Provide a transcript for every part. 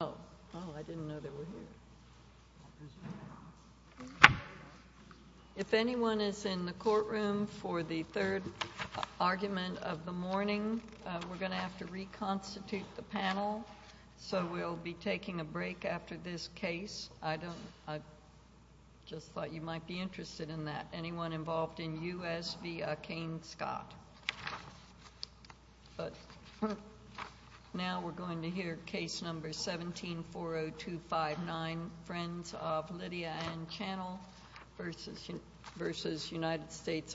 the Army. If anyone is in the courtroom for the third argument of the morning, we're going to have to reconstitute the panel, so we'll be taking a break after this case. I just thought you might be interested in that. Anyone involved in U.S. v. McCain-Scott? But now we're going to hear Case No. 17-40259, Friends of Lydia Ann Channel v. United States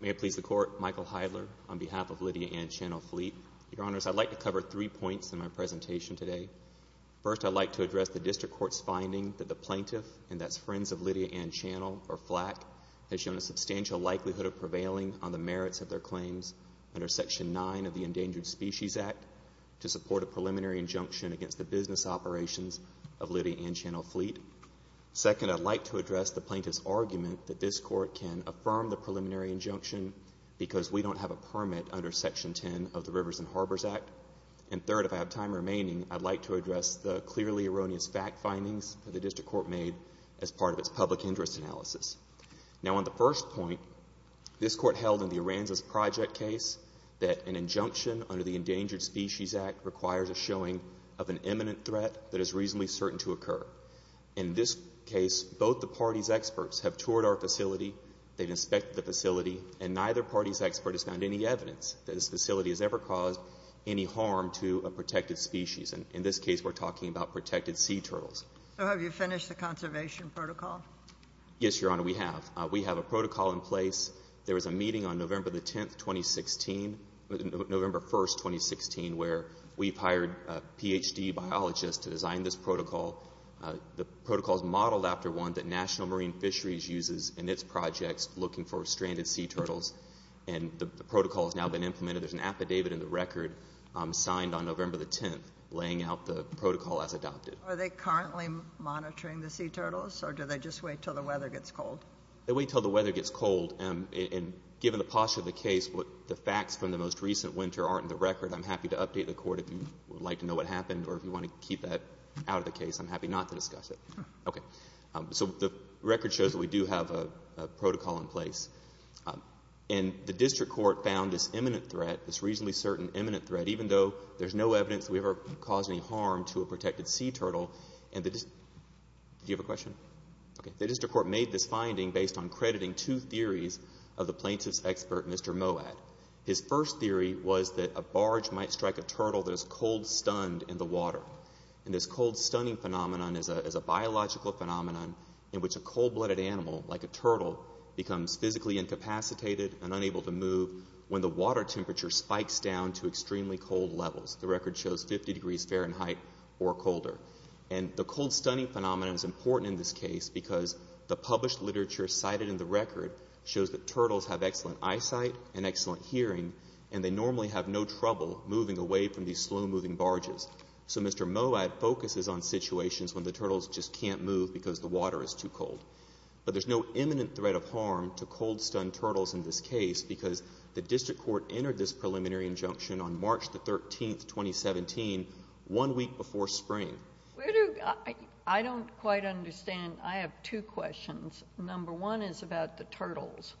May it please the Court, Michael Heidler, on behalf of Lydia Ann Channel Fleet. Your Honors, I'd like to cover three points in my presentation today. First, I'd like to address the District Court's finding that the plaintiff, and that's Friends of Lydia Ann Channel, or FLAC, has shown a substantial likelihood of prevailing on the claims under Section 9 of the Endangered Species Act to support a preliminary injunction against the business operations of Lydia Ann Channel Fleet. Second, I'd like to address the plaintiff's argument that this Court can affirm the preliminary injunction because we don't have a permit under Section 10 of the Rivers and Harbors Act. And third, if I have time remaining, I'd like to address the clearly erroneous fact findings that the District Court made as part of its public interest analysis. Now, on the first point, this Court held in the Aransas Project case that an injunction under the Endangered Species Act requires a showing of an imminent threat that is reasonably certain to occur. In this case, both the parties' experts have toured our facility, they've inspected the facility, and neither party's expert has found any evidence that this facility has ever caused any harm to a protected species. And in this case, we're talking about protected sea turtles. So have you finished the conservation protocol? Yes, Your Honor, we have. We have a protocol in place. There was a meeting on November the 10th, 2016, November 1st, 2016, where we've hired a Ph.D. biologist to design this protocol. The protocol is modeled after one that National Marine Fisheries uses in its projects looking for stranded sea turtles. And the protocol has now been implemented. There's an affidavit in the record signed on November the 10th laying out the protocol as adopted. Are they currently monitoring the sea turtles, or do they just wait until the weather gets cold? They wait until the weather gets cold. And given the posture of the case, the facts from the most recent winter aren't in the record. I'm happy to update the Court if you would like to know what happened, or if you want to keep that out of the case, I'm happy not to discuss it. Okay. So the record shows that we do have a protocol in place. And the district court found this imminent threat, this reasonably certain imminent threat, even though there's no evidence that we ever caused any harm to a protected sea turtle. Do you have a question? Okay. The district court made this finding based on crediting two theories of the plaintiff's expert, Mr. Moad. His first theory was that a barge might strike a turtle that is cold stunned in the water. And this cold stunning phenomenon is a biological phenomenon in which a cold-blooded animal, like a turtle, becomes physically incapacitated and unable to move when the water temperature spikes down to extremely cold levels. The record shows 50 degrees Fahrenheit or colder. And the cold stunning phenomenon is important in this case because the published literature cited in the record shows that turtles have excellent eyesight and excellent hearing, and they normally have no trouble moving away from these slow-moving barges. So Mr. Moad focuses on situations when the turtles just can't move because the water is too cold. But there's no imminent threat of harm to cold-stunned turtles in this case because the district court entered this preliminary injunction on March the 13th, 2017, one week before spring. I don't quite understand. I have two questions. Number one is about the turtles.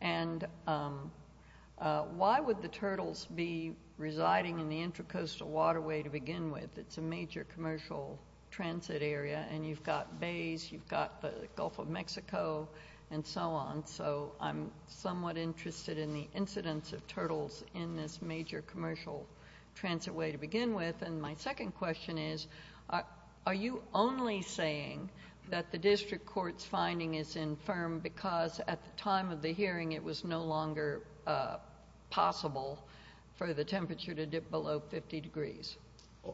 And why would the turtles be residing in the Intracoastal Waterway to begin with? It's a major commercial transit area, and you've got bays, you've got the Gulf of Mexico, and so on. And so I'm somewhat interested in the incidence of turtles in this major commercial transit way to begin with. And my second question is, are you only saying that the district court's finding is infirm because at the time of the hearing it was no longer possible for the temperature to dip below 50 degrees?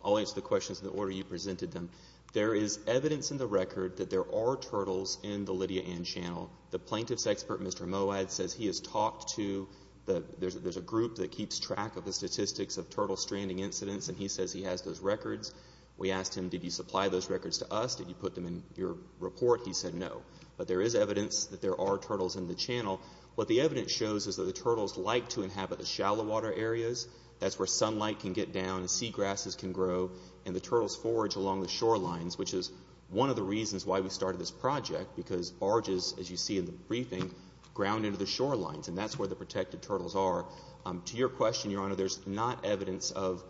I'll answer the questions in the order you presented them. There is evidence in the record that there are turtles in the Lydia Ann Channel. The plaintiff's expert, Mr. Moad, says he has talked to the, there's a group that keeps track of the statistics of turtle stranding incidents, and he says he has those records. We asked him, did you supply those records to us? Did you put them in your report? He said no. But there is evidence that there are turtles in the channel. What the evidence shows is that the turtles like to inhabit the shallow water areas. That's where sunlight can get down and sea grasses can grow, and the turtles forage along the shorelines, which is one of the reasons why we started this project, because barges, as you see in the briefing, ground into the shorelines, and that's where the protected turtles are. To your question, Your Honor, there's not evidence of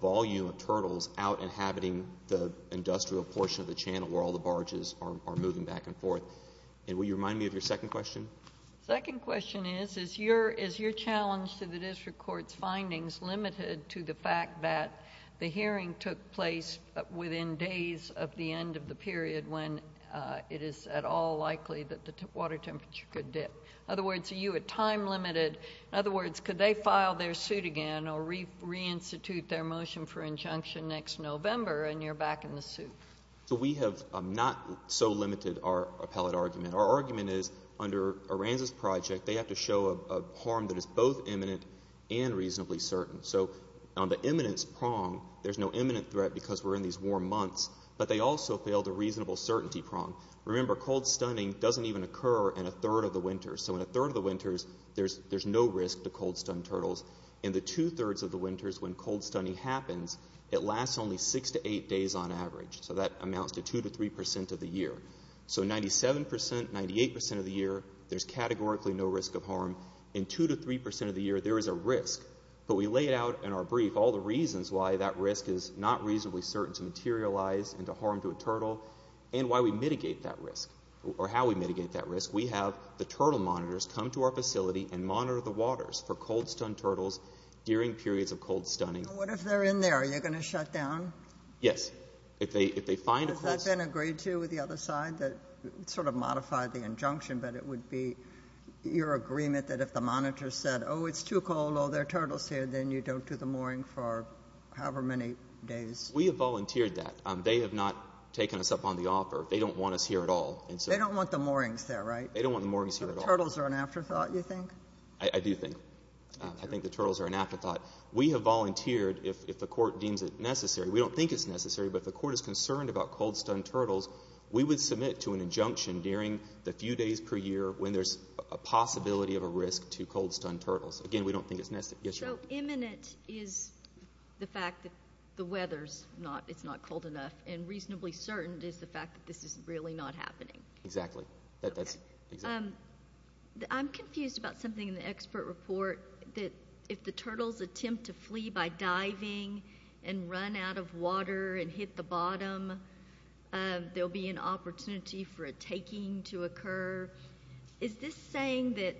volume of turtles out inhabiting the industrial portion of the channel where all the barges are moving back and forth. And will you remind me of your second question? Second question is, is your challenge to the district court's findings limited to the fact that the hearing took place within days of the end of the period when it is at all likely that the water temperature could dip? In other words, are you at time limited? In other words, could they file their suit again or reinstitute their motion for injunction next November and you're back in the suit? We have not so limited our appellate argument. Our argument is, under Aranza's project, they have to show a harm that is both imminent and reasonably certain. So, on the imminence prong, there's no imminent threat because we're in these warm months, but they also fail the reasonable certainty prong. Remember, cold stunning doesn't even occur in a third of the winters. So in a third of the winters, there's no risk to cold stunned turtles. In the two-thirds of the winters, when cold stunning happens, it lasts only six to eight days on average. So that amounts to two to three percent of the year. So 97 percent, 98 percent of the year, there's categorically no risk of harm. In two to three percent of the year, there is a risk, but we laid out in our brief all the reasons why that risk is not reasonably certain to materialize and to harm to a turtle and why we mitigate that risk or how we mitigate that risk. We have the turtle monitors come to our facility and monitor the waters for cold stunned turtles during periods of cold stunning. What if they're in there? Are you going to shut down? Yes. If they find a cold... Has that been agreed to with the other side that sort of modified the injunction, but it would be your agreement that if the monitor said, oh, it's too cold, oh, there are turtles here, then you don't do the mooring for however many days. We have volunteered that. They have not taken us up on the offer. They don't want us here at all. They don't want the moorings there, right? They don't want the moorings here at all. So the turtles are an afterthought, you think? I do think. I think the turtles are an afterthought. We have volunteered. If the court deems it necessary, we don't think it's necessary, but if the court is concerned about cold stunned turtles, we would submit to an injunction during the few days per year when there's a possibility of a risk to cold stunned turtles. Again, we don't think it's necessary. Yes, Your Honor. So imminent is the fact that the weather's not, it's not cold enough, and reasonably certain is the fact that this is really not happening. Exactly. That's... Okay. I'm confused about something in the expert report that if the turtles attempt to flee by diving and run out of water and hit the bottom, there'll be an opportunity for a taking to occur. Is this saying that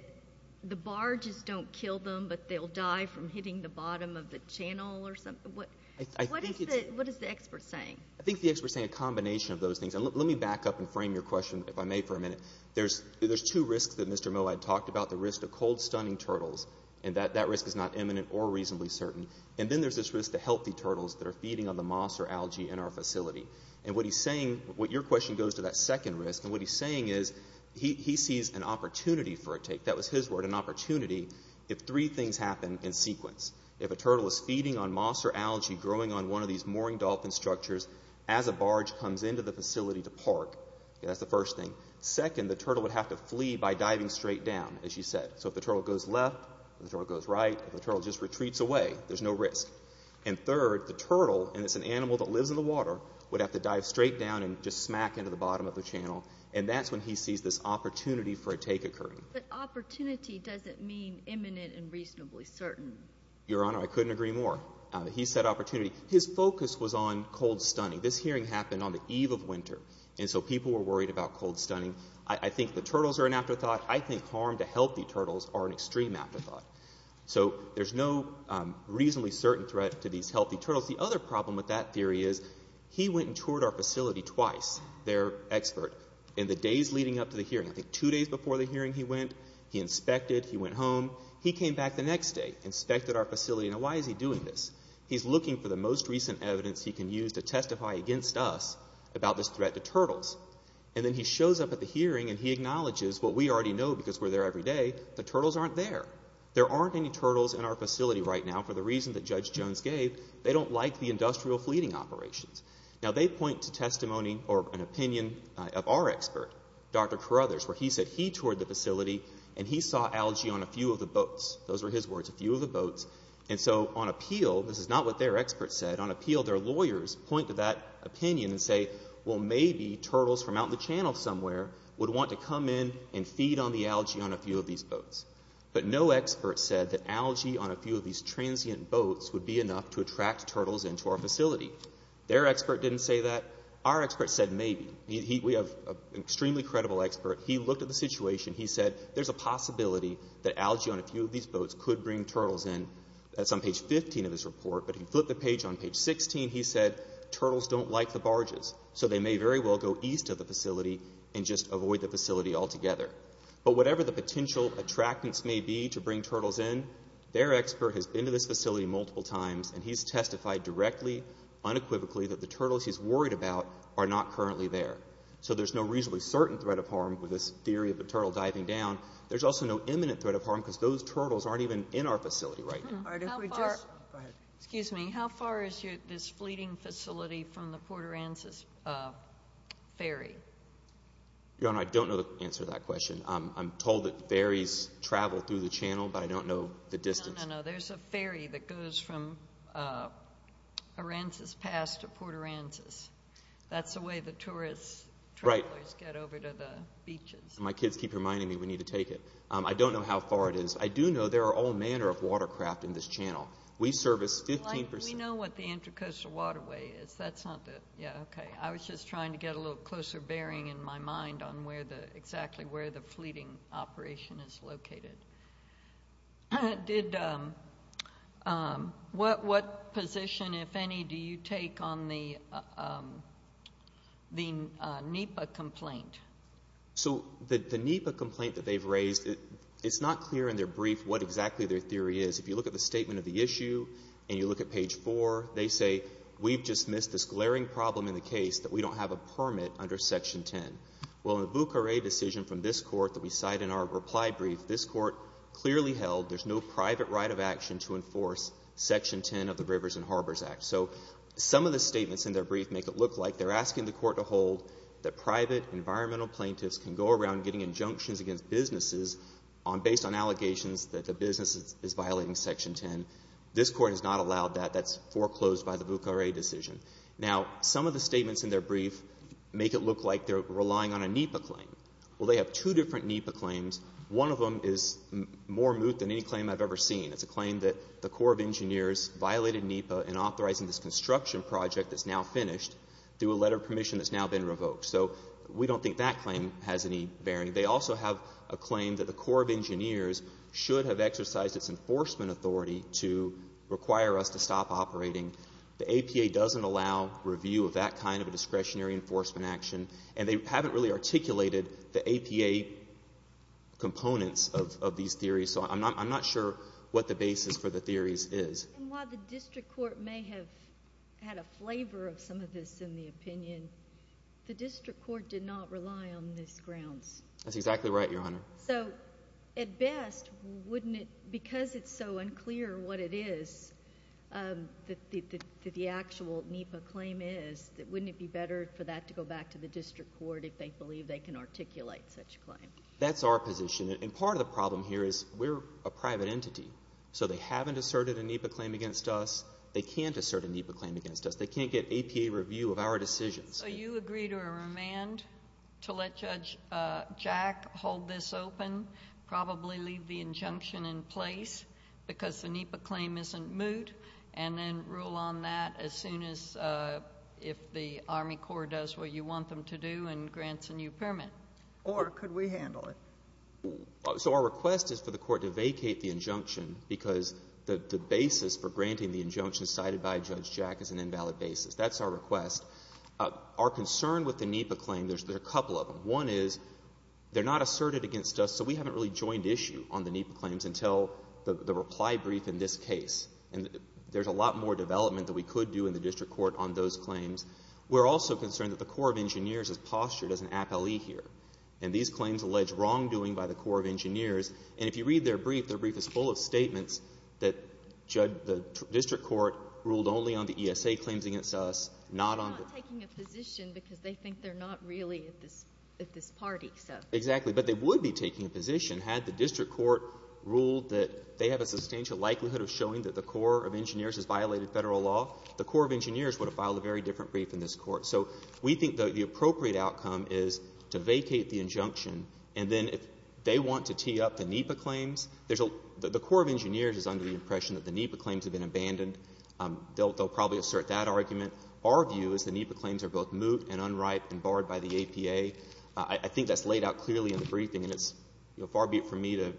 the barges don't kill them, but they'll die from hitting the bottom of the channel or something? What is the expert saying? I think the expert's saying a combination of those things. And let me back up and frame your question, if I may, for a minute. There's two risks that Mr. Moe had talked about. The risk of cold stunning turtles, and that risk is not imminent or reasonably certain. And then there's this risk to healthy turtles that are feeding on the moss or algae in our facility. And what he's saying, what your question goes to that second risk, and what he's saying is he sees an opportunity for a take, that was his word, an opportunity, if three things happen in sequence. If a turtle is feeding on moss or algae growing on one of these mooring dolphin structures as a barge comes into the facility to park, that's the first thing. Second, the turtle would have to flee by diving straight down, as you said. So if the turtle goes left, if the turtle goes right, if the turtle just retreats away, there's no risk. And third, the turtle, and it's an animal that lives in the water, would have to dive straight down and just smack into the bottom of the channel. And that's when he sees this opportunity for a take occurring. But opportunity doesn't mean imminent and reasonably certain. Your Honor, I couldn't agree more. He said opportunity. His focus was on cold stunning. This hearing happened on the eve of winter, and so people were worried about cold stunning. I think the turtles are an afterthought. I think harm to healthy turtles are an extreme afterthought. So there's no reasonably certain threat to these healthy turtles. The other problem with that theory is he went and toured our facility twice, their expert, in the days leading up to the hearing. I think two days before the hearing he went, he inspected, he went home. He came back the next day, inspected our facility. Now why is he doing this? He's looking for the most recent evidence he can use to testify against us about this threat to turtles. And then he shows up at the hearing and he acknowledges what we already know because we're there every day. The turtles aren't there. There aren't any turtles in our facility right now for the reason that Judge Jones gave. They don't like the industrial fleeting operations. Now they point to testimony or an opinion of our expert, Dr. Carruthers, where he said he toured the facility and he saw algae on a few of the boats. Those were his words, a few of the boats. And so on appeal, this is not what their expert said, on appeal their lawyers point to that opinion and say, well maybe turtles from out in the channel somewhere would want to come in and feed on the algae on a few of these boats. But no expert said that algae on a few of these transient boats would be enough to attract turtles into our facility. Their expert didn't say that. Our expert said maybe. We have an extremely credible expert. He looked at the situation. He said there's a possibility that algae on a few of these boats could bring turtles in. That's on page 15 of his report, but he flipped the page on page 16. He said turtles don't like the barges, so they may very well go east of the facility and just avoid the facility altogether. But whatever the potential attractants may be to bring turtles in, their expert has been to this facility multiple times and he's testified directly, unequivocally, that the turtles he's worried about are not currently there. So there's no reasonably certain threat of harm with this theory of the turtle diving down. There's also no imminent threat of harm because those turtles aren't even in our facility right now. Excuse me. How far is this fleeting facility from the Port Aransas ferry? Your Honor, I don't know the answer to that question. I'm told that ferries travel through the channel, but I don't know the distance. No, no, no. There's a ferry that goes from Aransas Pass to Port Aransas. That's the way the tourist travelers get over to the beaches. My kids keep reminding me we need to take it. I don't know how far it is. I do know there are all manner of watercraft in this channel. We service 15%. We know what the Intracoastal Waterway is. I was just trying to get a little closer bearing in my mind on exactly where the fleeting operation is located. What position, if any, do you take on the NEPA complaint? So the NEPA complaint that they've raised, it's not clear in their brief what exactly their theory is. If you look at the statement of the issue and you look at page 4, they say, we've just missed this glaring problem in the case that we don't have a permit under Section 10. Well, in the Bucare decision from this Court that we cite in our reply brief, this Court clearly held there's no private right of action to enforce Section 10 of the Rivers and Harbors Act. So some of the statements in their brief make it look like they're asking the Court to hold that private environmental plaintiffs can go around getting injunctions against businesses based on allegations that the business is violating Section 10. This Court has not allowed that. That's foreclosed by the Bucare decision. Now, some of the statements in their brief make it look like they're relying on a NEPA claim. Well, they have two different NEPA claims. One of them is more moot than any claim I've ever seen. It's a claim that the Corps of Engineers violated NEPA in authorizing this construction project that's now finished through a letter of permission that's now been revoked. So we don't think that claim has any bearing. They also have a claim that the Corps of Engineers should have exercised its enforcement authority to require us to stop operating. The APA doesn't allow review of that kind of a discretionary enforcement action. And they haven't really articulated the APA components of these theories. So I'm not sure what the basis for the theories is. And while the district court may have had a flavor of some of this in the opinion, the district court did not rely on this grounds. That's exactly right, Your Honor. So at best, wouldn't it, because it's so unclear what it is that the actual NEPA claim is, wouldn't it be better for that to go back to the district court if they believe they can articulate such a claim? That's our position. And part of the problem here is we're a private entity. So they haven't asserted a NEPA claim against us. They can't assert a NEPA claim against us. They can't get APA review of our decisions. So you agree to a remand to let Judge Jack hold this open, probably leave the injunction in place because the NEPA claim isn't moot, and then rule on that as soon as if the Army Corps does what you want them to do and grants a new permit? Or could we handle it? So our request is for the court to vacate the injunction because the basis for granting the injunction cited by Judge Jack is an invalid basis. That's our request. Our concern with the NEPA claim, there's a couple of them. One is they're not asserted against us, so we haven't really joined issue on the NEPA claims until the reply brief in this case. And there's a lot more development that we could do in the district court on those claims. We're also concerned that the Corps of Engineers is postured as an appellee here. And these claims allege wrongdoing by the Corps of Engineers. And if you read their brief, their brief is full of statements that the district court ruled only on the ESA claims against us, not on the — They're not taking a position because they think they're not really at this party, so — Exactly. But they would be taking a position had the district court ruled that they have a substantial likelihood of showing that the Corps of Engineers has violated Federal law. The Corps of Engineers would have filed a very different brief in this court. So we think the appropriate outcome is to vacate the injunction, and then if they want to tee up the NEPA claims, there's a — the Corps of Engineers is under the impression that the NEPA claims have been abandoned. They'll probably assert that argument. Our view is the NEPA claims are both moot and unripe and barred by the APA. I think that's laid out clearly in the briefing, and it's far be it for me to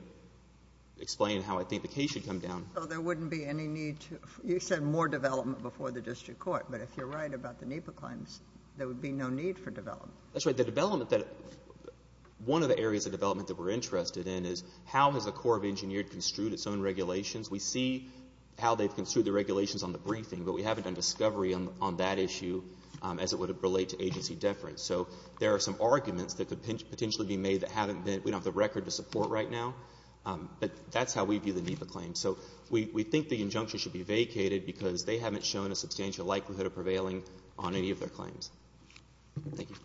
explain how I think the case should come down. So there wouldn't be any need to — you said more development before the district court, but if you're right about the NEPA claims, there would be no need for development. That's right. The development that — one of the areas of development that we're interested in is how has the Corps of Engineers construed its own regulations? We see how they've construed the regulations on the briefing, but we haven't done discovery on that issue as it would relate to agency deference. So there are some arguments that could potentially be made that haven't been — we don't have the record to support right now, but that's how we view the NEPA claims. So we think the injunction should be vacated because they haven't shown a substantial likelihood of prevailing on any of their claims. Thank you.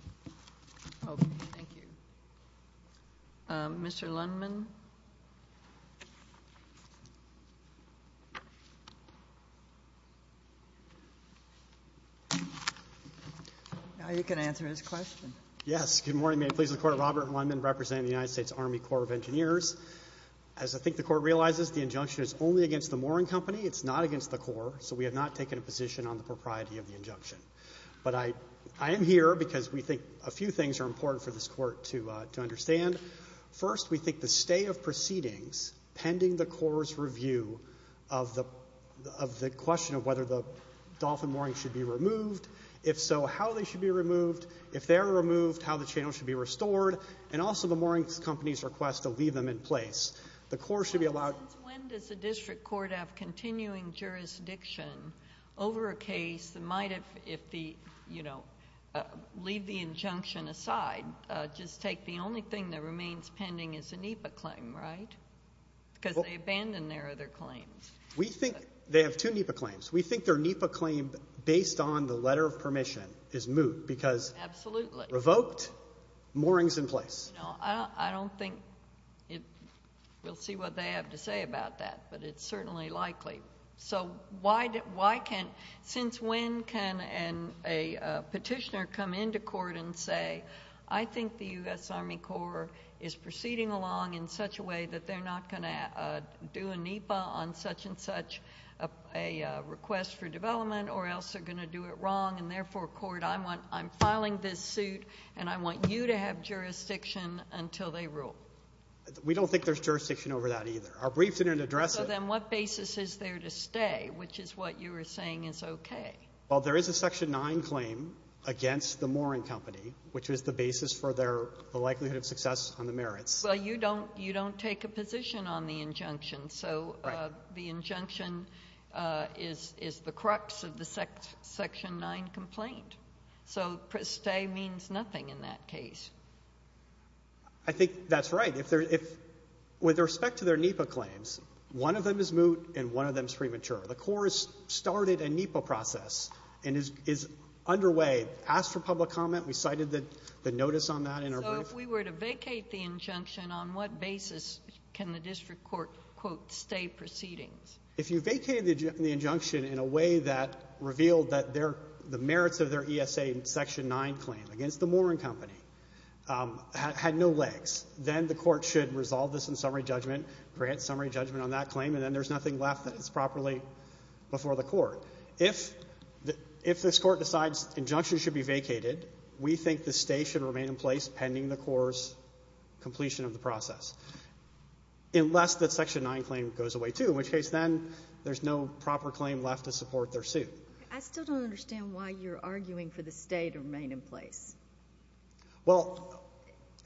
Okay. Thank you. Mr. Lundman? Now you can answer his question. Yes. Good morning. May it please the Court. Robert Lundman representing the United States Army Corps of Engineers. As I think the Court realizes, the injunction is only against the mooring company. It's not against the Corps, so we have not taken a position on the propriety of the injunction. But I am here because we think a few things are important for this Court to understand. First, we think the stay of proceedings pending the Corps' review of the question of whether the dolphin moorings should be removed, if so, how they should be removed. And also the mooring company's request to leave them in place. The Corps should be allowed... But since when does the district court have continuing jurisdiction over a case that might have, if the, you know, leave the injunction aside, just take the only thing that remains pending as a NEPA claim, right? Because they abandoned their other claims. We think they have two NEPA claims. We think their NEPA claim, based on the letter of permission, is moot. Because... Absolutely. Revoked, moorings in place. No, I don't think we'll see what they have to say about that, but it's certainly likely. So why can't... Since when can a petitioner come into court and say, I think the U.S. Army Corps is proceeding along in such a way that they're not going to do a NEPA on such and such a request for development or else they're going to do it wrong, and therefore, court, I'm filing this suit, and I want you to have jurisdiction until they rule? We don't think there's jurisdiction over that either. Our brief didn't address it. So then what basis is there to stay, which is what you were saying is okay? Well, there is a Section 9 claim against the mooring company, which was the basis for their likelihood of success on the merits. Well, you don't take a position on the injunction. So the injunction is the crux of the Section 9 complaint. So stay means nothing in that case. I think that's right. With respect to their NEPA claims, one of them is moot and one of them is premature. The Corps started a NEPA process and is underway. Asked for public comment. We cited the notice on that in our brief. So if we were to vacate the injunction, on what basis can the district court, quote, stay proceedings? If you vacated the injunction in a way that revealed that the merits of their ESA Section 9 claim against the mooring company had no legs, then the court should resolve this in summary judgment, grant summary judgment on that claim, and then there's nothing left that is properly before the court. If this court decides injunction should be vacated, we think the stay should remain in place pending the Corps' completion of the process, unless that Section 9 claim goes away, too, in which case then there's no proper claim left to support their suit. I still don't understand why you're arguing for the stay to remain in place. Well,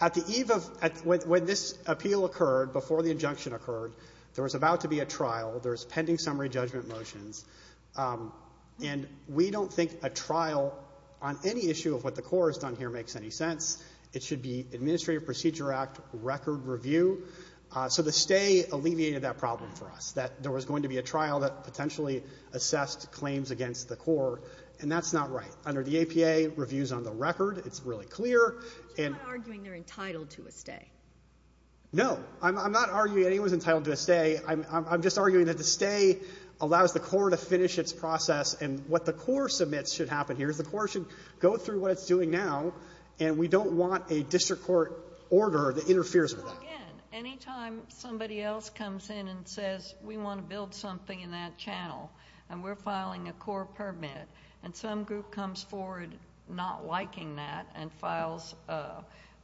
at the eve of – when this appeal occurred, before the injunction occurred, there was about to be a trial. There's pending summary judgment motions. And we don't think a trial on any issue of what the Corps has done here makes any sense. It should be Administrative Procedure Act record review. So the stay alleviated that problem for us, that there was going to be a trial that potentially assessed claims against the Corps, and that's not right. Under the APA, reviews on the record, it's really clear, and… But you're not arguing they're entitled to a stay. No. I'm not arguing anyone's entitled to a stay. I'm just arguing that the stay allows the Corps to finish its process. And what the Corps submits should happen here is the Corps should go through what it's doing now, and we don't want a district court order that interferes with it. So again, any time somebody else comes in and says, we want to build something in that channel, and we're filing a Corps permit, and some group comes forward not liking that and files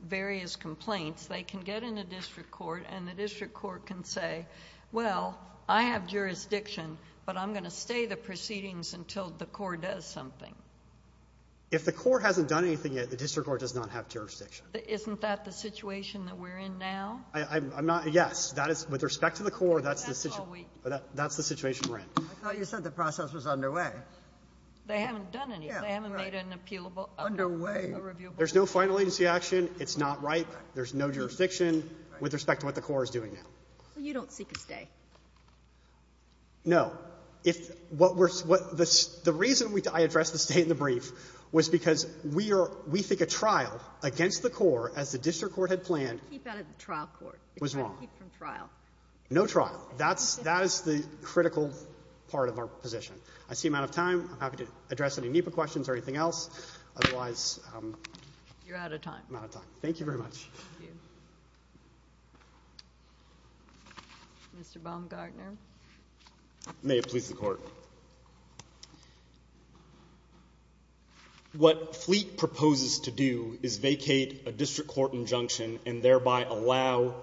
various complaints, they can get in a district court, and the district court can say, well, I have jurisdiction, but I'm going to stay the proceedings until the Corps does something. If the Corps hasn't done anything yet, the district court does not have jurisdiction. Isn't that the situation that we're in now? I'm not — yes. That is — with respect to the Corps, that's the situation we're in. I thought you said the process was underway. They haven't done anything. They haven't made an appealable — Underway. There's no final agency action. It's not right. There's no jurisdiction with respect to what the Corps is doing now. So you don't seek a stay? No. If what we're — the reason I addressed the stay in the brief was because we are — we think a trial against the Corps, as the district court had planned — Keep out of the trial court. Was wrong. Keep from trial. No trial. That's — that is the critical part of our position. I see I'm out of time. I'm happy to address any NEPA questions or anything else. Otherwise — You're out of time. I'm out of time. Thank you very much. Thank you. Mr. Baumgartner. May it please the Court. What Fleet proposes to do is vacate a district court injunction and thereby allow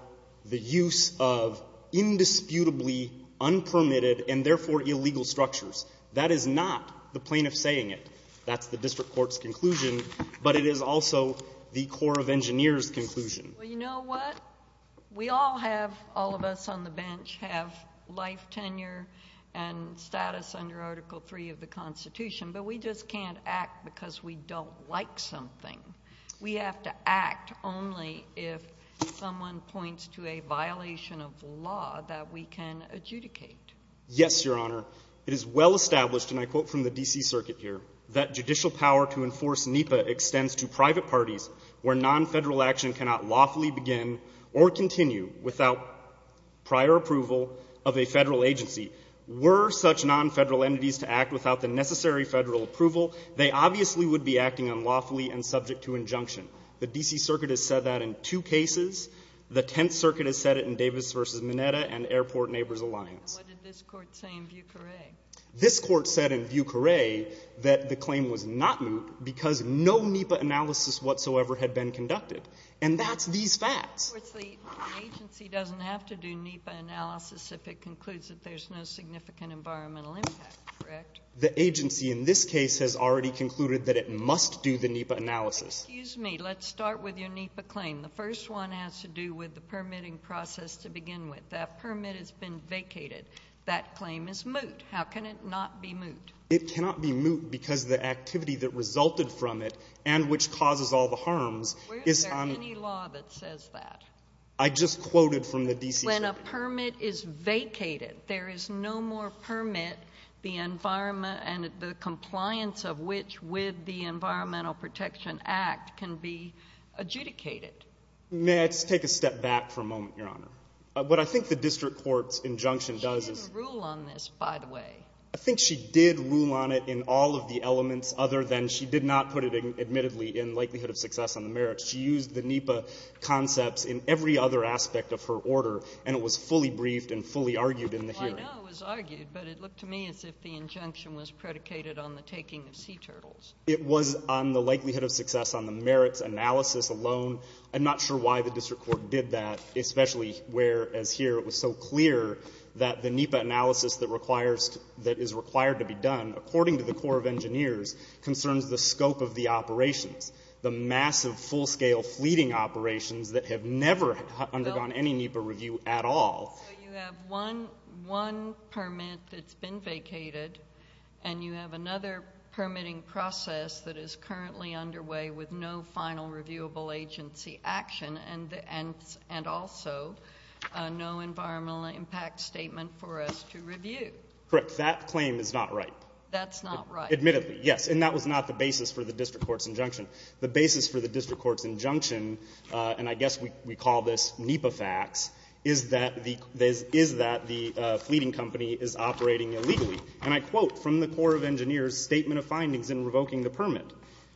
the use of indisputably unpermitted and therefore illegal structures. That is not the plaintiff saying it. That's the district court's conclusion. But it is also the Corps of Engineers' conclusion. Well, you know what? We all have — all of us on the bench have life, tenure, and status under Article III of the Constitution, but we just can't act because we don't like something. We have to act only if someone points to a violation of the law that we can adjudicate. Yes, Your Honor. It is well established, and I quote from the D.C. Circuit here, that judicial power to enforce NEPA extends to private parties where nonfederal action cannot lawfully begin or continue without prior approval of a federal agency. Were such nonfederal entities to act without the necessary federal approval, they obviously would be acting unlawfully and subject to injunction. The D.C. Circuit has said that in two cases. The Tenth Circuit has said it in Davis v. Mineta and Airport Neighbors Alliance. And what did this Court say in Vieux Carre? This Court said in Vieux Carre that the claim was not moot because no NEPA analysis whatsoever had been conducted. And that's these facts. Of course, the agency doesn't have to do NEPA analysis if it concludes that there's no significant environmental impact, correct? The agency in this case has already concluded that it must do the NEPA analysis. Excuse me. Let's start with your NEPA claim. The first one has to do with the permitting process to begin with. That permit has been vacated. That claim is moot. How can it not be moot? It cannot be moot because the activity that resulted from it and which causes all the harms is on the law that says that. I just quoted from the D.C. When a permit is vacated, there is no more permit the environment and the compliance of which with the Environmental Protection Act can be adjudicated. Let's take a step back for a moment, Your Honor. What I think the district court's injunction does is rule on this, by the way, I think she did rule on it in all of the elements other than she did not put it in, admittedly, in likelihood of success on the merits. She used the NEPA concepts in every other aspect of her order, and it was fully briefed and fully argued in the hearing. Well, I know it was argued, but it looked to me as if the injunction was predicated on the taking of sea turtles. It was on the likelihood of success on the merits analysis alone. I'm not sure why the district court did that, especially where, as here, it was so clear that the NEPA analysis that is required to be done, according to the Corps of Engineers, concerns the scope of the operations, the massive, full-scale fleeting operations that have never undergone any NEPA review at all. So you have one permit that's been vacated, and you have another permitting process that is currently underway with no final reviewable agency action, and also no environmental impact statement for us to review. Correct. That claim is not right. That's not right. Admittedly, yes. And that was not the basis for the district court's injunction. The basis for the district court's injunction, and I guess we call this NEPA facts, is that the fleeting company is operating illegally. And I quote from the Corps of Engineers' statement of findings in revoking the permit.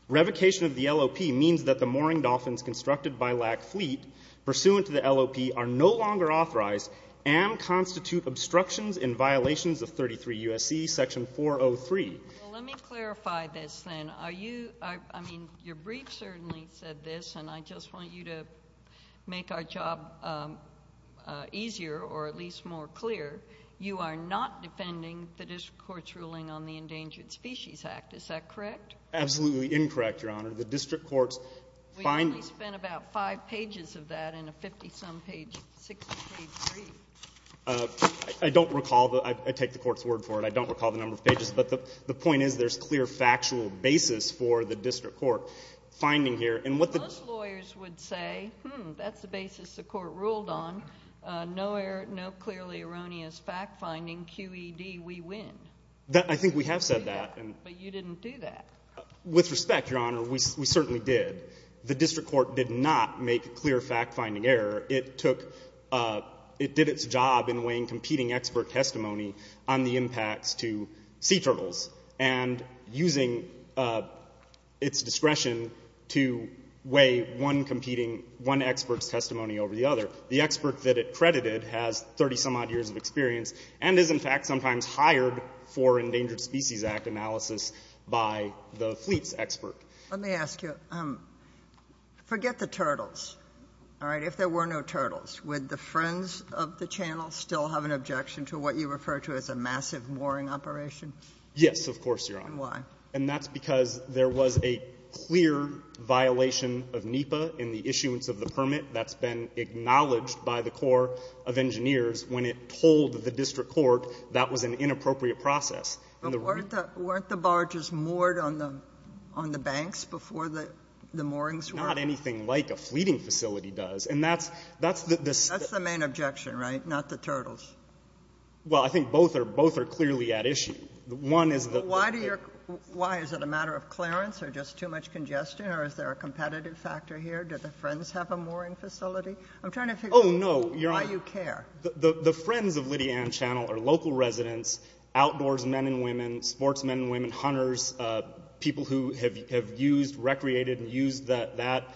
Revocation of the LOP means that the mooring dolphins constructed by LAC Fleet pursuant to the LOP are no longer authorized and constitute obstructions in violations of 33 U.S.C. Section 403. Well, let me clarify this, then. Are you — I mean, your brief certainly said this, and I just want you to make our job easier, or at least more clear. You are not defending the district court's ruling on the Endangered Species Act. Is that correct? Absolutely incorrect, Your Honor. The district court's finding — We only spent about five pages of that in a 50-some-page, 60-page brief. I don't recall. I take the court's word for it. I don't recall the number of pages. But the point is there's clear factual basis for the district court finding here. And what the — Most lawyers would say, hmm, that's the basis the court ruled on. No clearly erroneous fact-finding, QED, we win. I think we have said that. But you didn't do that. With respect, Your Honor, we certainly did. The district court did not make a clear fact-finding error. It took — it did its job in weighing competing expert testimony on the impacts to sea turtles and using its discretion to weigh one competing — one expert's testimony over the other. The expert that it credited has 30-some-odd years of experience and is, in fact, sometimes hired for Endangered Species Act analysis by the fleet's expert. Let me ask you, forget the turtles, all right? If there were no turtles, would the Friends of the Channel still have an objection to what you refer to as a massive mooring operation? Yes, of course, Your Honor. And why? And that's because there was a clear violation of NEPA in the issuance of the permit. That's been acknowledged by the Corps of Engineers when it told the district court that was an inappropriate process. And the — But weren't the barges moored on the — on the banks before the moorings were? Not anything like a fleeting facility does. And that's — that's the — That's the main objection, right? Not the turtles. Well, I think both are — both are clearly at issue. One is the — Why do you — why? Is it a matter of clearance or just too much congestion? Or is there a competitive factor here? Do the Friends have a mooring facility? I'm trying to figure out — Oh, no. — why you care. The Friends of Lydianne Channel are local residents, outdoors men and women, sportsmen and women, hunters, people who have used — recreated and used that — that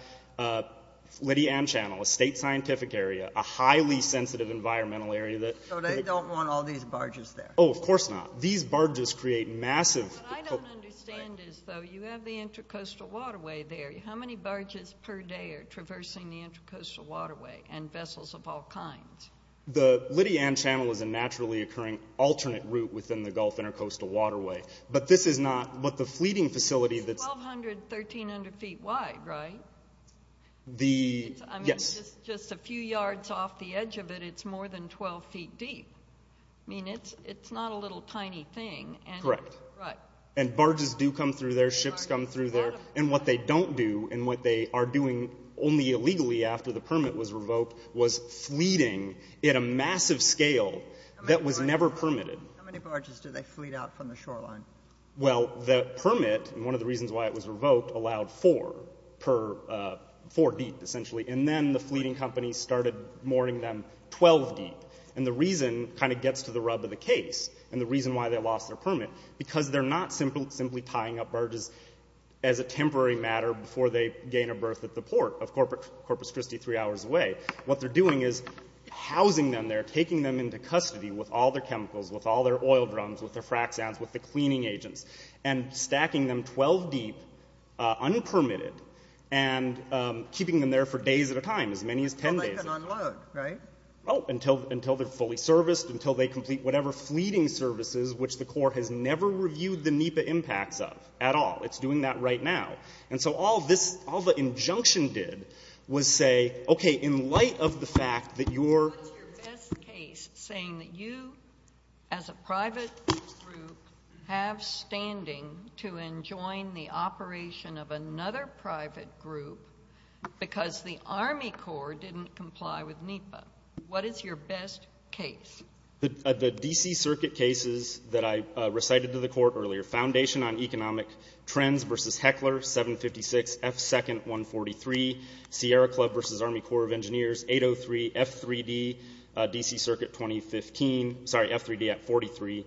Lydianne Channel, a state scientific area, a highly sensitive environmental area that — So they don't want all these barges there. Oh, of course not. These barges create massive — What I don't understand is, though, you have the intercoastal waterway there. How many barges per day are traversing the intercoastal waterway and vessels of all kinds? The Lydianne Channel is a naturally occurring alternate route within the Gulf Intercoastal Waterway. But this is not what the fleeting facility that's — It's 1,200, 1,300 feet wide, right? The — yes. I mean, just — just a few yards off the edge of it, it's more than 12 feet deep. I mean, it's — it's not a little tiny thing, and — Correct. Right. And barges do come through there. Ships come through there. And what they don't do, and what they are doing only illegally after the permit was revoked, was fleeting at a massive scale that was never permitted. How many barges do they fleet out from the shoreline? Well, the permit, and one of the reasons why it was revoked, allowed four per — four deep, essentially. And then the fleeting companies started mooring them 12 deep. And the reason kind of gets to the rub of the case and the reason why they lost their temporary matter before they gain a berth at the port of Corpus Christi three hours away, what they're doing is housing them there, taking them into custody with all their chemicals, with all their oil drums, with their frac sounds, with the cleaning agents, and stacking them 12 deep, unpermitted, and keeping them there for days at a time, as many as 10 days at a time. But they can unload, right? Oh, until — until they're fully serviced, until they complete whatever fleeting services, which the court has never reviewed the NEPA impacts of at all. It's doing that right now. And so all this — all the injunction did was say, okay, in light of the fact that your — What's your best case saying that you, as a private group, have standing to enjoin the operation of another private group because the Army Corps didn't comply with NEPA? What is your best case? The — the D.C. Circuit cases that I recited to the Court earlier, Foundation on Economic Trends v. Heckler, 756, F. 2nd, 143, Sierra Club v. Army Corps of Engineers, 803, F. 3D, D.C. Circuit 2015 — sorry, F. 3D at 43,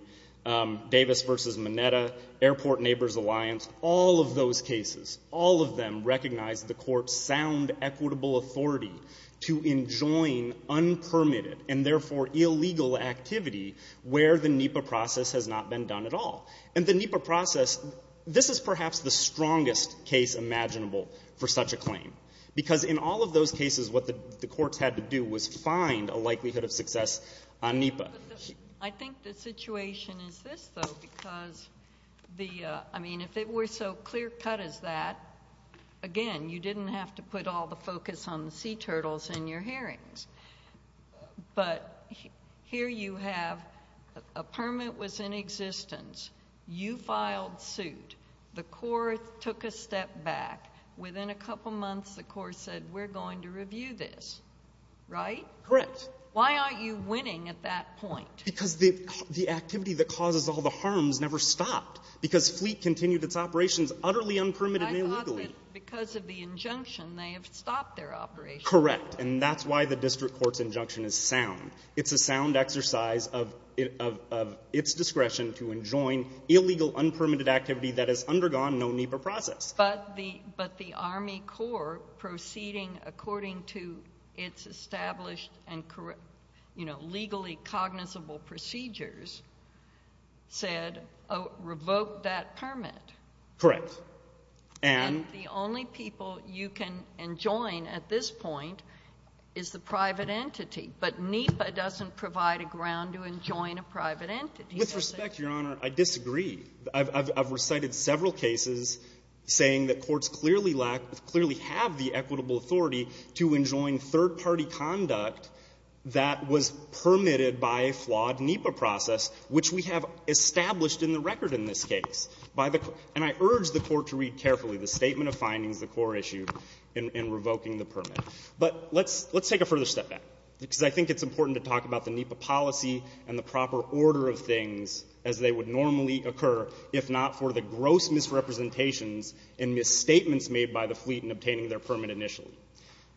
Davis v. Minetta, Airport Neighbors Alliance, all of those cases, all of them recognized the Court's sound equitable authority to enjoin unpermitted and, therefore, illegally operating activity where the NEPA process has not been done at all. And the NEPA process — this is perhaps the strongest case imaginable for such a claim because in all of those cases, what the courts had to do was find a likelihood of success on NEPA. But the — I think the situation is this, though, because the — I mean, if it were so clear-cut as that, again, you didn't have to put all the focus on the sea turtles in your hearings. But here you have — a permit was in existence, you filed suit, the court took a step back, within a couple months, the court said, we're going to review this, right? Correct. Why aren't you winning at that point? Because the activity that causes all the harms never stopped because Fleet continued its operations utterly unpermitted and illegally. I thought that because of the injunction, they have stopped their operations. Correct. And that's why the district court's injunction is sound. It's a sound exercise of its discretion to enjoin illegal, unpermitted activity that has undergone no NEPA process. But the Army Corps, proceeding according to its established and, you know, legally cognizable procedures, said, revoke that permit. Correct. And the only people you can enjoin at this point is the private entity. But NEPA doesn't provide a ground to enjoin a private entity. With respect, Your Honor, I disagree. I've recited several cases saying that courts clearly lack — clearly have the equitable authority to enjoin third-party conduct that was permitted by a flawed NEPA process, which we have established in the record in this case. By the — and I urge the Court to read carefully the statement of findings the Corps issued in revoking the permit. But let's take a further step back, because I think it's important to talk about the NEPA policy and the proper order of things as they would normally occur if not for the gross misrepresentations and misstatements made by the Fleet in obtaining their permit initially.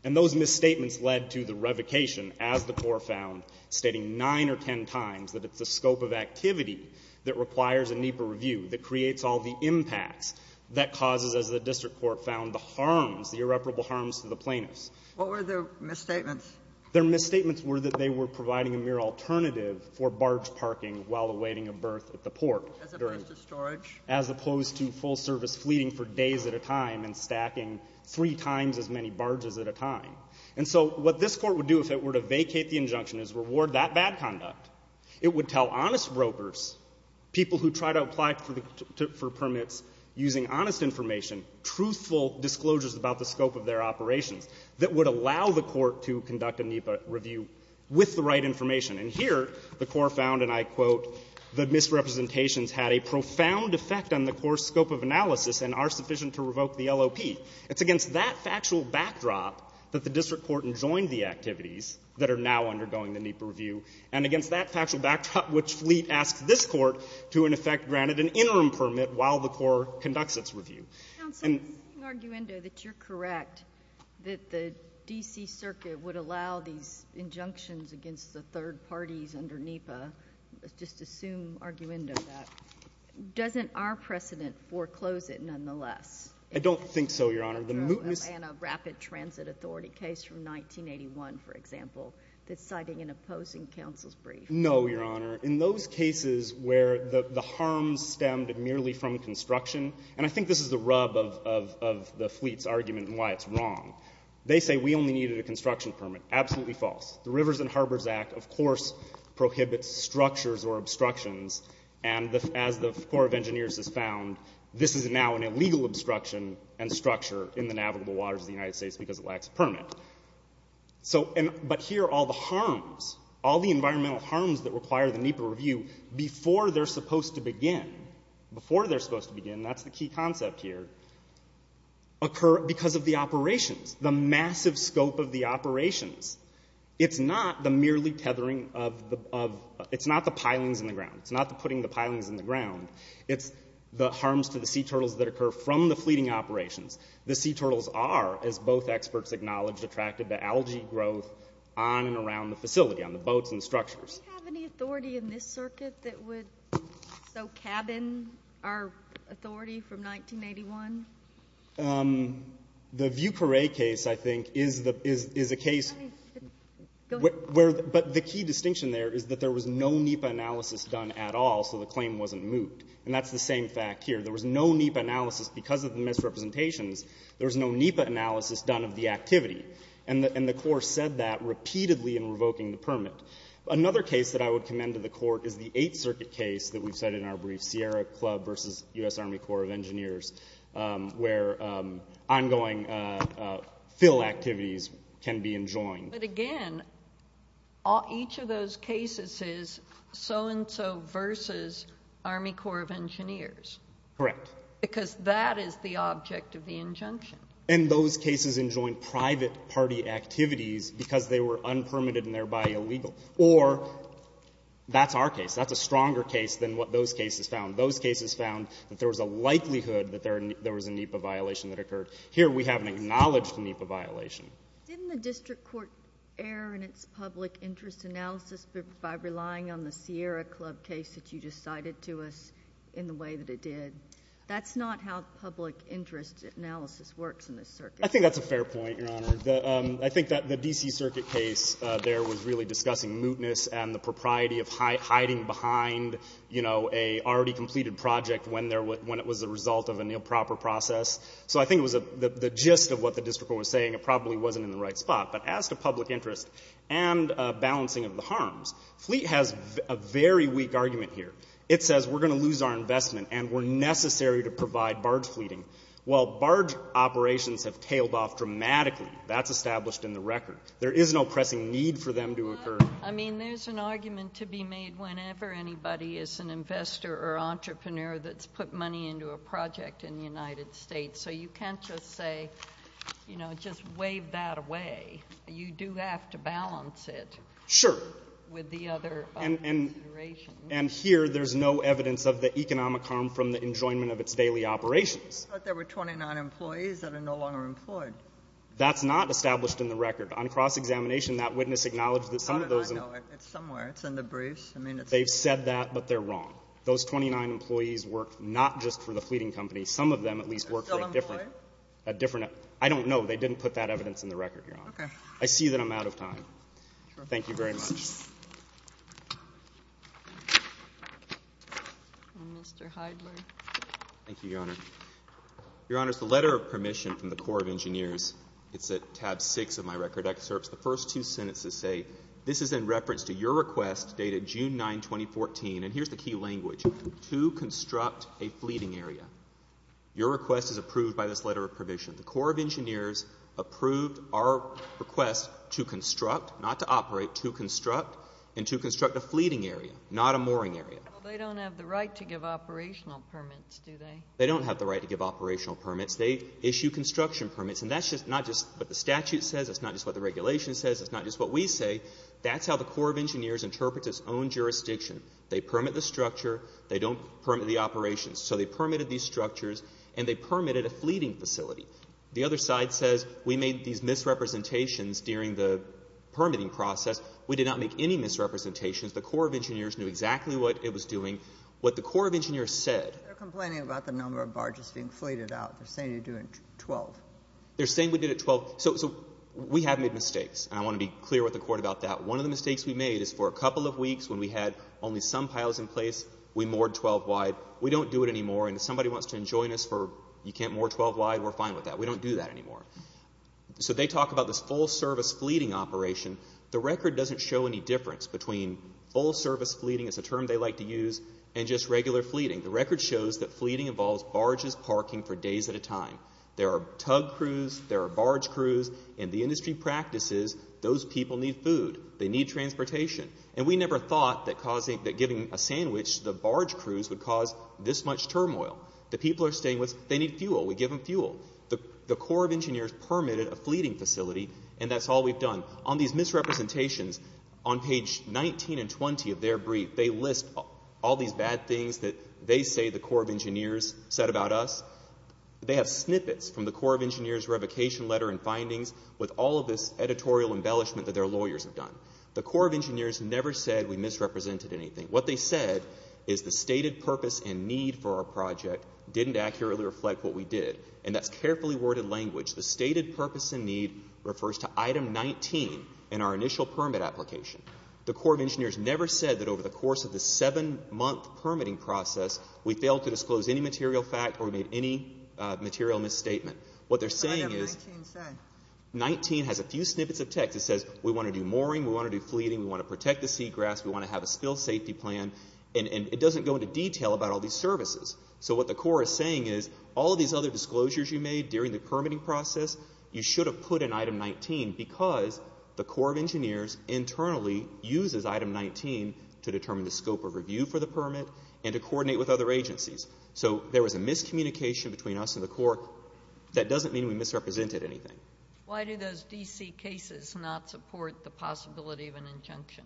And those misstatements led to the revocation, as the Corps found, stating 9 or 10 times that it's the scope of activity that requires a NEPA review, that creates all the impacts, that causes, as the district court found, the harms, the irreparable harms to the plaintiffs. What were their misstatements? Their misstatements were that they were providing a mere alternative for barge parking while awaiting a berth at the port. As opposed to storage. As opposed to full-service fleeting for days at a time and stacking three times as many barges at a time. And so what this Court would do if it were to vacate the injunction is reward that bad conduct. It would tell honest brokers, people who try to apply for the permits using honest information, truthful disclosures about the scope of their operations that would allow the Court to conduct a NEPA review with the right information. And here, the Corps found, and I quote, the misrepresentations had a profound effect on the Corps' scope of analysis and are sufficient to revoke the LOP. It's against that factual backdrop that the district court enjoined the activities that are now undergoing the NEPA review. And against that factual backdrop, which Fleet asked this Court to, in effect, granted an interim permit while the Corps conducts its review. And the argument that you're correct, that the D.C. Circuit would allow these injunctions against the third parties under NEPA, let's just assume arguendo that, doesn't our precedent foreclose it, nonetheless? I don't think so, Your Honor. The mootness. And a rapid transit authority case from 1981, for example, that's citing an opposing counsel's brief. No, Your Honor. In those cases where the harm stemmed merely from construction, and I think this is the rub of the Fleet's argument and why it's wrong, they say we only needed a construction permit. Absolutely false. The Rivers and Harbors Act, of course, prohibits structures or obstructions. And as the Corps of Engineers has found, this is now an illegal obstruction and structure in the navigable waters of the United States because it lacks a permit. So, but here all the harms, all the environmental harms that require the NEPA review before they're supposed to begin, before they're supposed to begin, that's the key concept here, occur because of the operations, the massive scope of the operations. It's not the merely tethering of the, it's not the pilings in the ground. It's not the putting the pilings in the ground. It's the harms to the sea turtles that occur from the fleeting operations. The sea turtles are, as both experts acknowledge, attracted to algae growth on and around the facility, on the boats and structures. Do we have any authority in this circuit that would so cabin our authority from 1981? The Vieux Carre case, I think, is a case where, but the key distinction there is that there was no NEPA analysis done at all, so the claim wasn't moot. And that's the same fact here. There was no NEPA analysis because of the misrepresentations. There was no NEPA analysis done of the activity. And the Corps said that repeatedly in revoking the permit. Another case that I would commend to the Court is the Eighth Circuit case that we've said in our brief, Sierra Club versus U.S. Army Corps of Engineers, where ongoing fill activities can be enjoined. But again, each of those cases is so-and-so versus Army Corps of Engineers. Because that is the object of the injunction. And those cases enjoined private party activities because they were unpermitted and thereby illegal. Or that's our case. That's a stronger case than what those cases found. Those cases found that there was a likelihood that there was a NEPA violation that occurred. Here, we haven't acknowledged a NEPA violation. Didn't the district court err in its public interest analysis by relying on the Sierra Club case that you just cited to us in the way that it did? That's not how public interest analysis works in this circuit. I think that's a fair point, Your Honor. I think that the D.C. Circuit case there was really discussing mootness and the propriety of hiding behind, you know, a already-completed project when it was the result of an improper process. So I think it was the gist of what the district court was saying. It probably wasn't in the right spot. But as to public interest and balancing of the harms, Fleet has a very weak argument here. It says we're going to lose our investment and we're necessary to provide barge fleeting. While barge operations have tailed off dramatically, that's established in the record. There is no pressing need for them to occur. I mean, there's an argument to be made whenever anybody is an investor or entrepreneur that's put money into a project in the United States. So you can't just say, you know, just wave that away. You do have to balance it. Sure. With the other considerations. And here, there's no evidence of the economic harm from the enjoyment of its daily operations. But there were 29 employees that are no longer employed. That's not established in the record. On cross-examination, that witness acknowledged that some of those — God, I know it. It's somewhere. It's in the briefs. I mean, it's — They've said that, but they're wrong. Those 29 employees work not just for the fleeting company. Some of them at least work for a different — Still employed? A different — I don't know. They didn't put that evidence in the record, Your Honor. Okay. I see that I'm out of time. Thank you very much. Mr. Heidler. Thank you, Your Honor. Your Honor, it's the letter of permission from the Corps of Engineers. It's at tab 6 of my record excerpts. The first two sentences say, This is in reference to your request dated June 9, 2014. And here's the key language. To construct a fleeting area. Your request is approved by this letter of permission. The Corps of Engineers approved our request to construct — not to operate, to construct — and to construct a fleeting area, not a mooring area. Well, they don't have the right to give operational permits, do they? They don't have the right to give operational permits. They issue construction permits. And that's not just what the statute says. That's not just what the regulation says. That's not just what we say. That's how the Corps of Engineers interprets its own jurisdiction. They permit the structure. They don't permit the operations. So they permitted these structures, and they permitted a fleeting facility. The other side says, We made these misrepresentations during the permitting process, we did not make any misrepresentations. The Corps of Engineers knew exactly what it was doing. What the Corps of Engineers said — They're complaining about the number of barges being fleeted out. They're saying you did it at 12. They're saying we did it at 12. So we have made mistakes. And I want to be clear with the Court about that. One of the mistakes we made is for a couple of weeks when we had only some piles in place, we moored 12 wide. We don't do it anymore. And if somebody wants to enjoin us for, You can't moor 12 wide, we're fine with that. We don't do that anymore. So they talk about this full-service fleeting operation. The record doesn't show any difference between full-service fleeting — it's a term they like to use — and just regular fleeting. The record shows that fleeting involves barges parking for days at a time. There are tug crews, there are barge crews, and the industry practices, those people need food. They need transportation. And we never thought that giving a sandwich to the barge crews would cause this much turmoil. The people are staying with — They need fuel. We give them fuel. The Corps of Engineers permitted a fleeting facility, and that's all we've done. On these misrepresentations, on page 19 and 20 of their brief, they list all these bad things that they say the Corps of Engineers said about us. They have snippets from the Corps of Engineers revocation letter and findings with all of this editorial embellishment that their lawyers have done. The Corps of Engineers never said we misrepresented anything. What they said is the stated purpose and need for our project didn't accurately reflect what we did. And that's carefully worded language. The stated purpose and need refers to item 19 in our initial permit application. The Corps of Engineers never said that over the course of the seven-month permitting process, we failed to disclose any material fact or made any material misstatement. What they're saying is — What did item 19 say? 19 has a few snippets of text. It says we want to do mooring, we want to do fleeting, we want to protect the seagrass, we want to have a spill safety plan. And it doesn't go into detail about all these services. So what the Corps is saying is all of these other disclosures you made during the permitting process, you should have put in item 19 because the Corps of Engineers internally uses item 19 to determine the scope of review for the permit and to coordinate with other agencies. So there was a miscommunication between us and the Corps. That doesn't mean we misrepresented anything. Why do those D.C. cases not support the possibility of an injunction?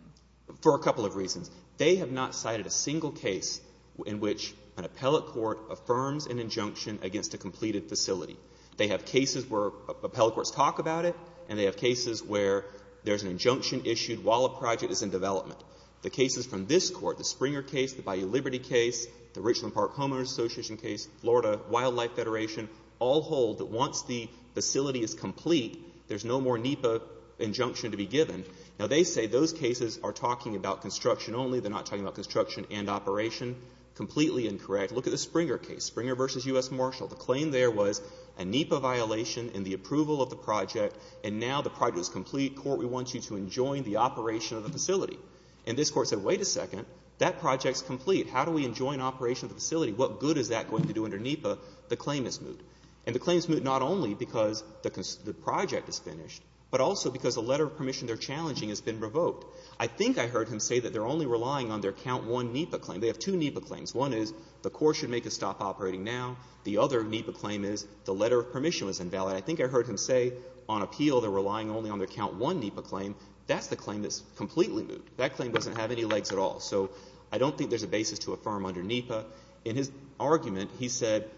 For a couple of reasons. They have not cited a single case in which an appellate court affirms an injunction against a completed facility. They have cases where appellate courts talk about it, and they have cases where there's an injunction issued while a project is in development. The cases from this Court, the Springer case, the Bayou Liberty case, the Richland Park Homeowners Association case, Florida Wildlife Federation, all hold that once the facility is complete, there's no more NEPA injunction to be given. Now, they say those cases are talking about construction only. They're not talking about construction and operation. Completely incorrect. Look at the Springer case, Springer v. U.S. Marshall. The claim there was a NEPA violation in the approval of the project, and now the project is complete. Court, we want you to enjoin the operation of the facility. And this Court said, wait a second. That project's complete. How do we enjoin operation of the facility? What good is that going to do under NEPA? The claim is moot. And the claim is moot not only because the project is finished, but also because the letter of permission they're challenging has been revoked. I think I heard him say that they're only relying on their count one NEPA claim. They have two NEPA claims. One is the Court should make a stop operating now. The other NEPA claim is the letter of permission was invalid. I think I heard him say on appeal they're relying only on their count one NEPA claim. That's the claim that's completely moot. That claim doesn't have any legs at all. So I don't think there's a basis to affirm under NEPA. In his argument, he said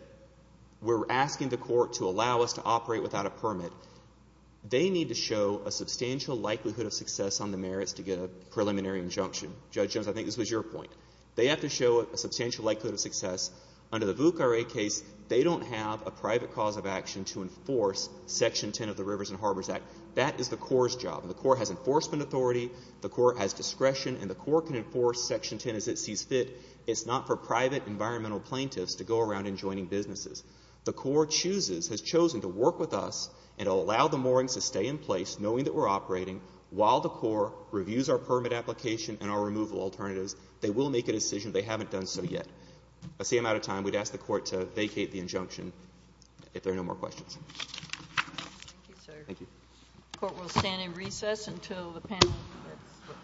we're asking the Court to allow us to operate without a permit. They need to show a substantial likelihood of success on the merits to get a preliminary injunction. Judge Jones, I think this was your point. They have to show a substantial likelihood of success. Under the VOOC RA case, they don't have a private cause of action to enforce Section 10 of the Rivers and Harbors Act. That is the Corps' job. And the Corps has enforcement authority. The Corps has discretion. And the Corps can enforce Section 10 as it sees fit. It's not for private environmental plaintiffs to go around enjoining businesses. The Corps chooses, has chosen to work with us and allow the moorings to stay in place knowing that we're operating while the Corps reviews our permit application and our removal alternatives. They will make a decision. They haven't done so yet. That's the amount of time we'd ask the Court to vacate the injunction, if there are no more questions. Thank you, sir. Thank you. The Court will stand in recess until the panel is finished.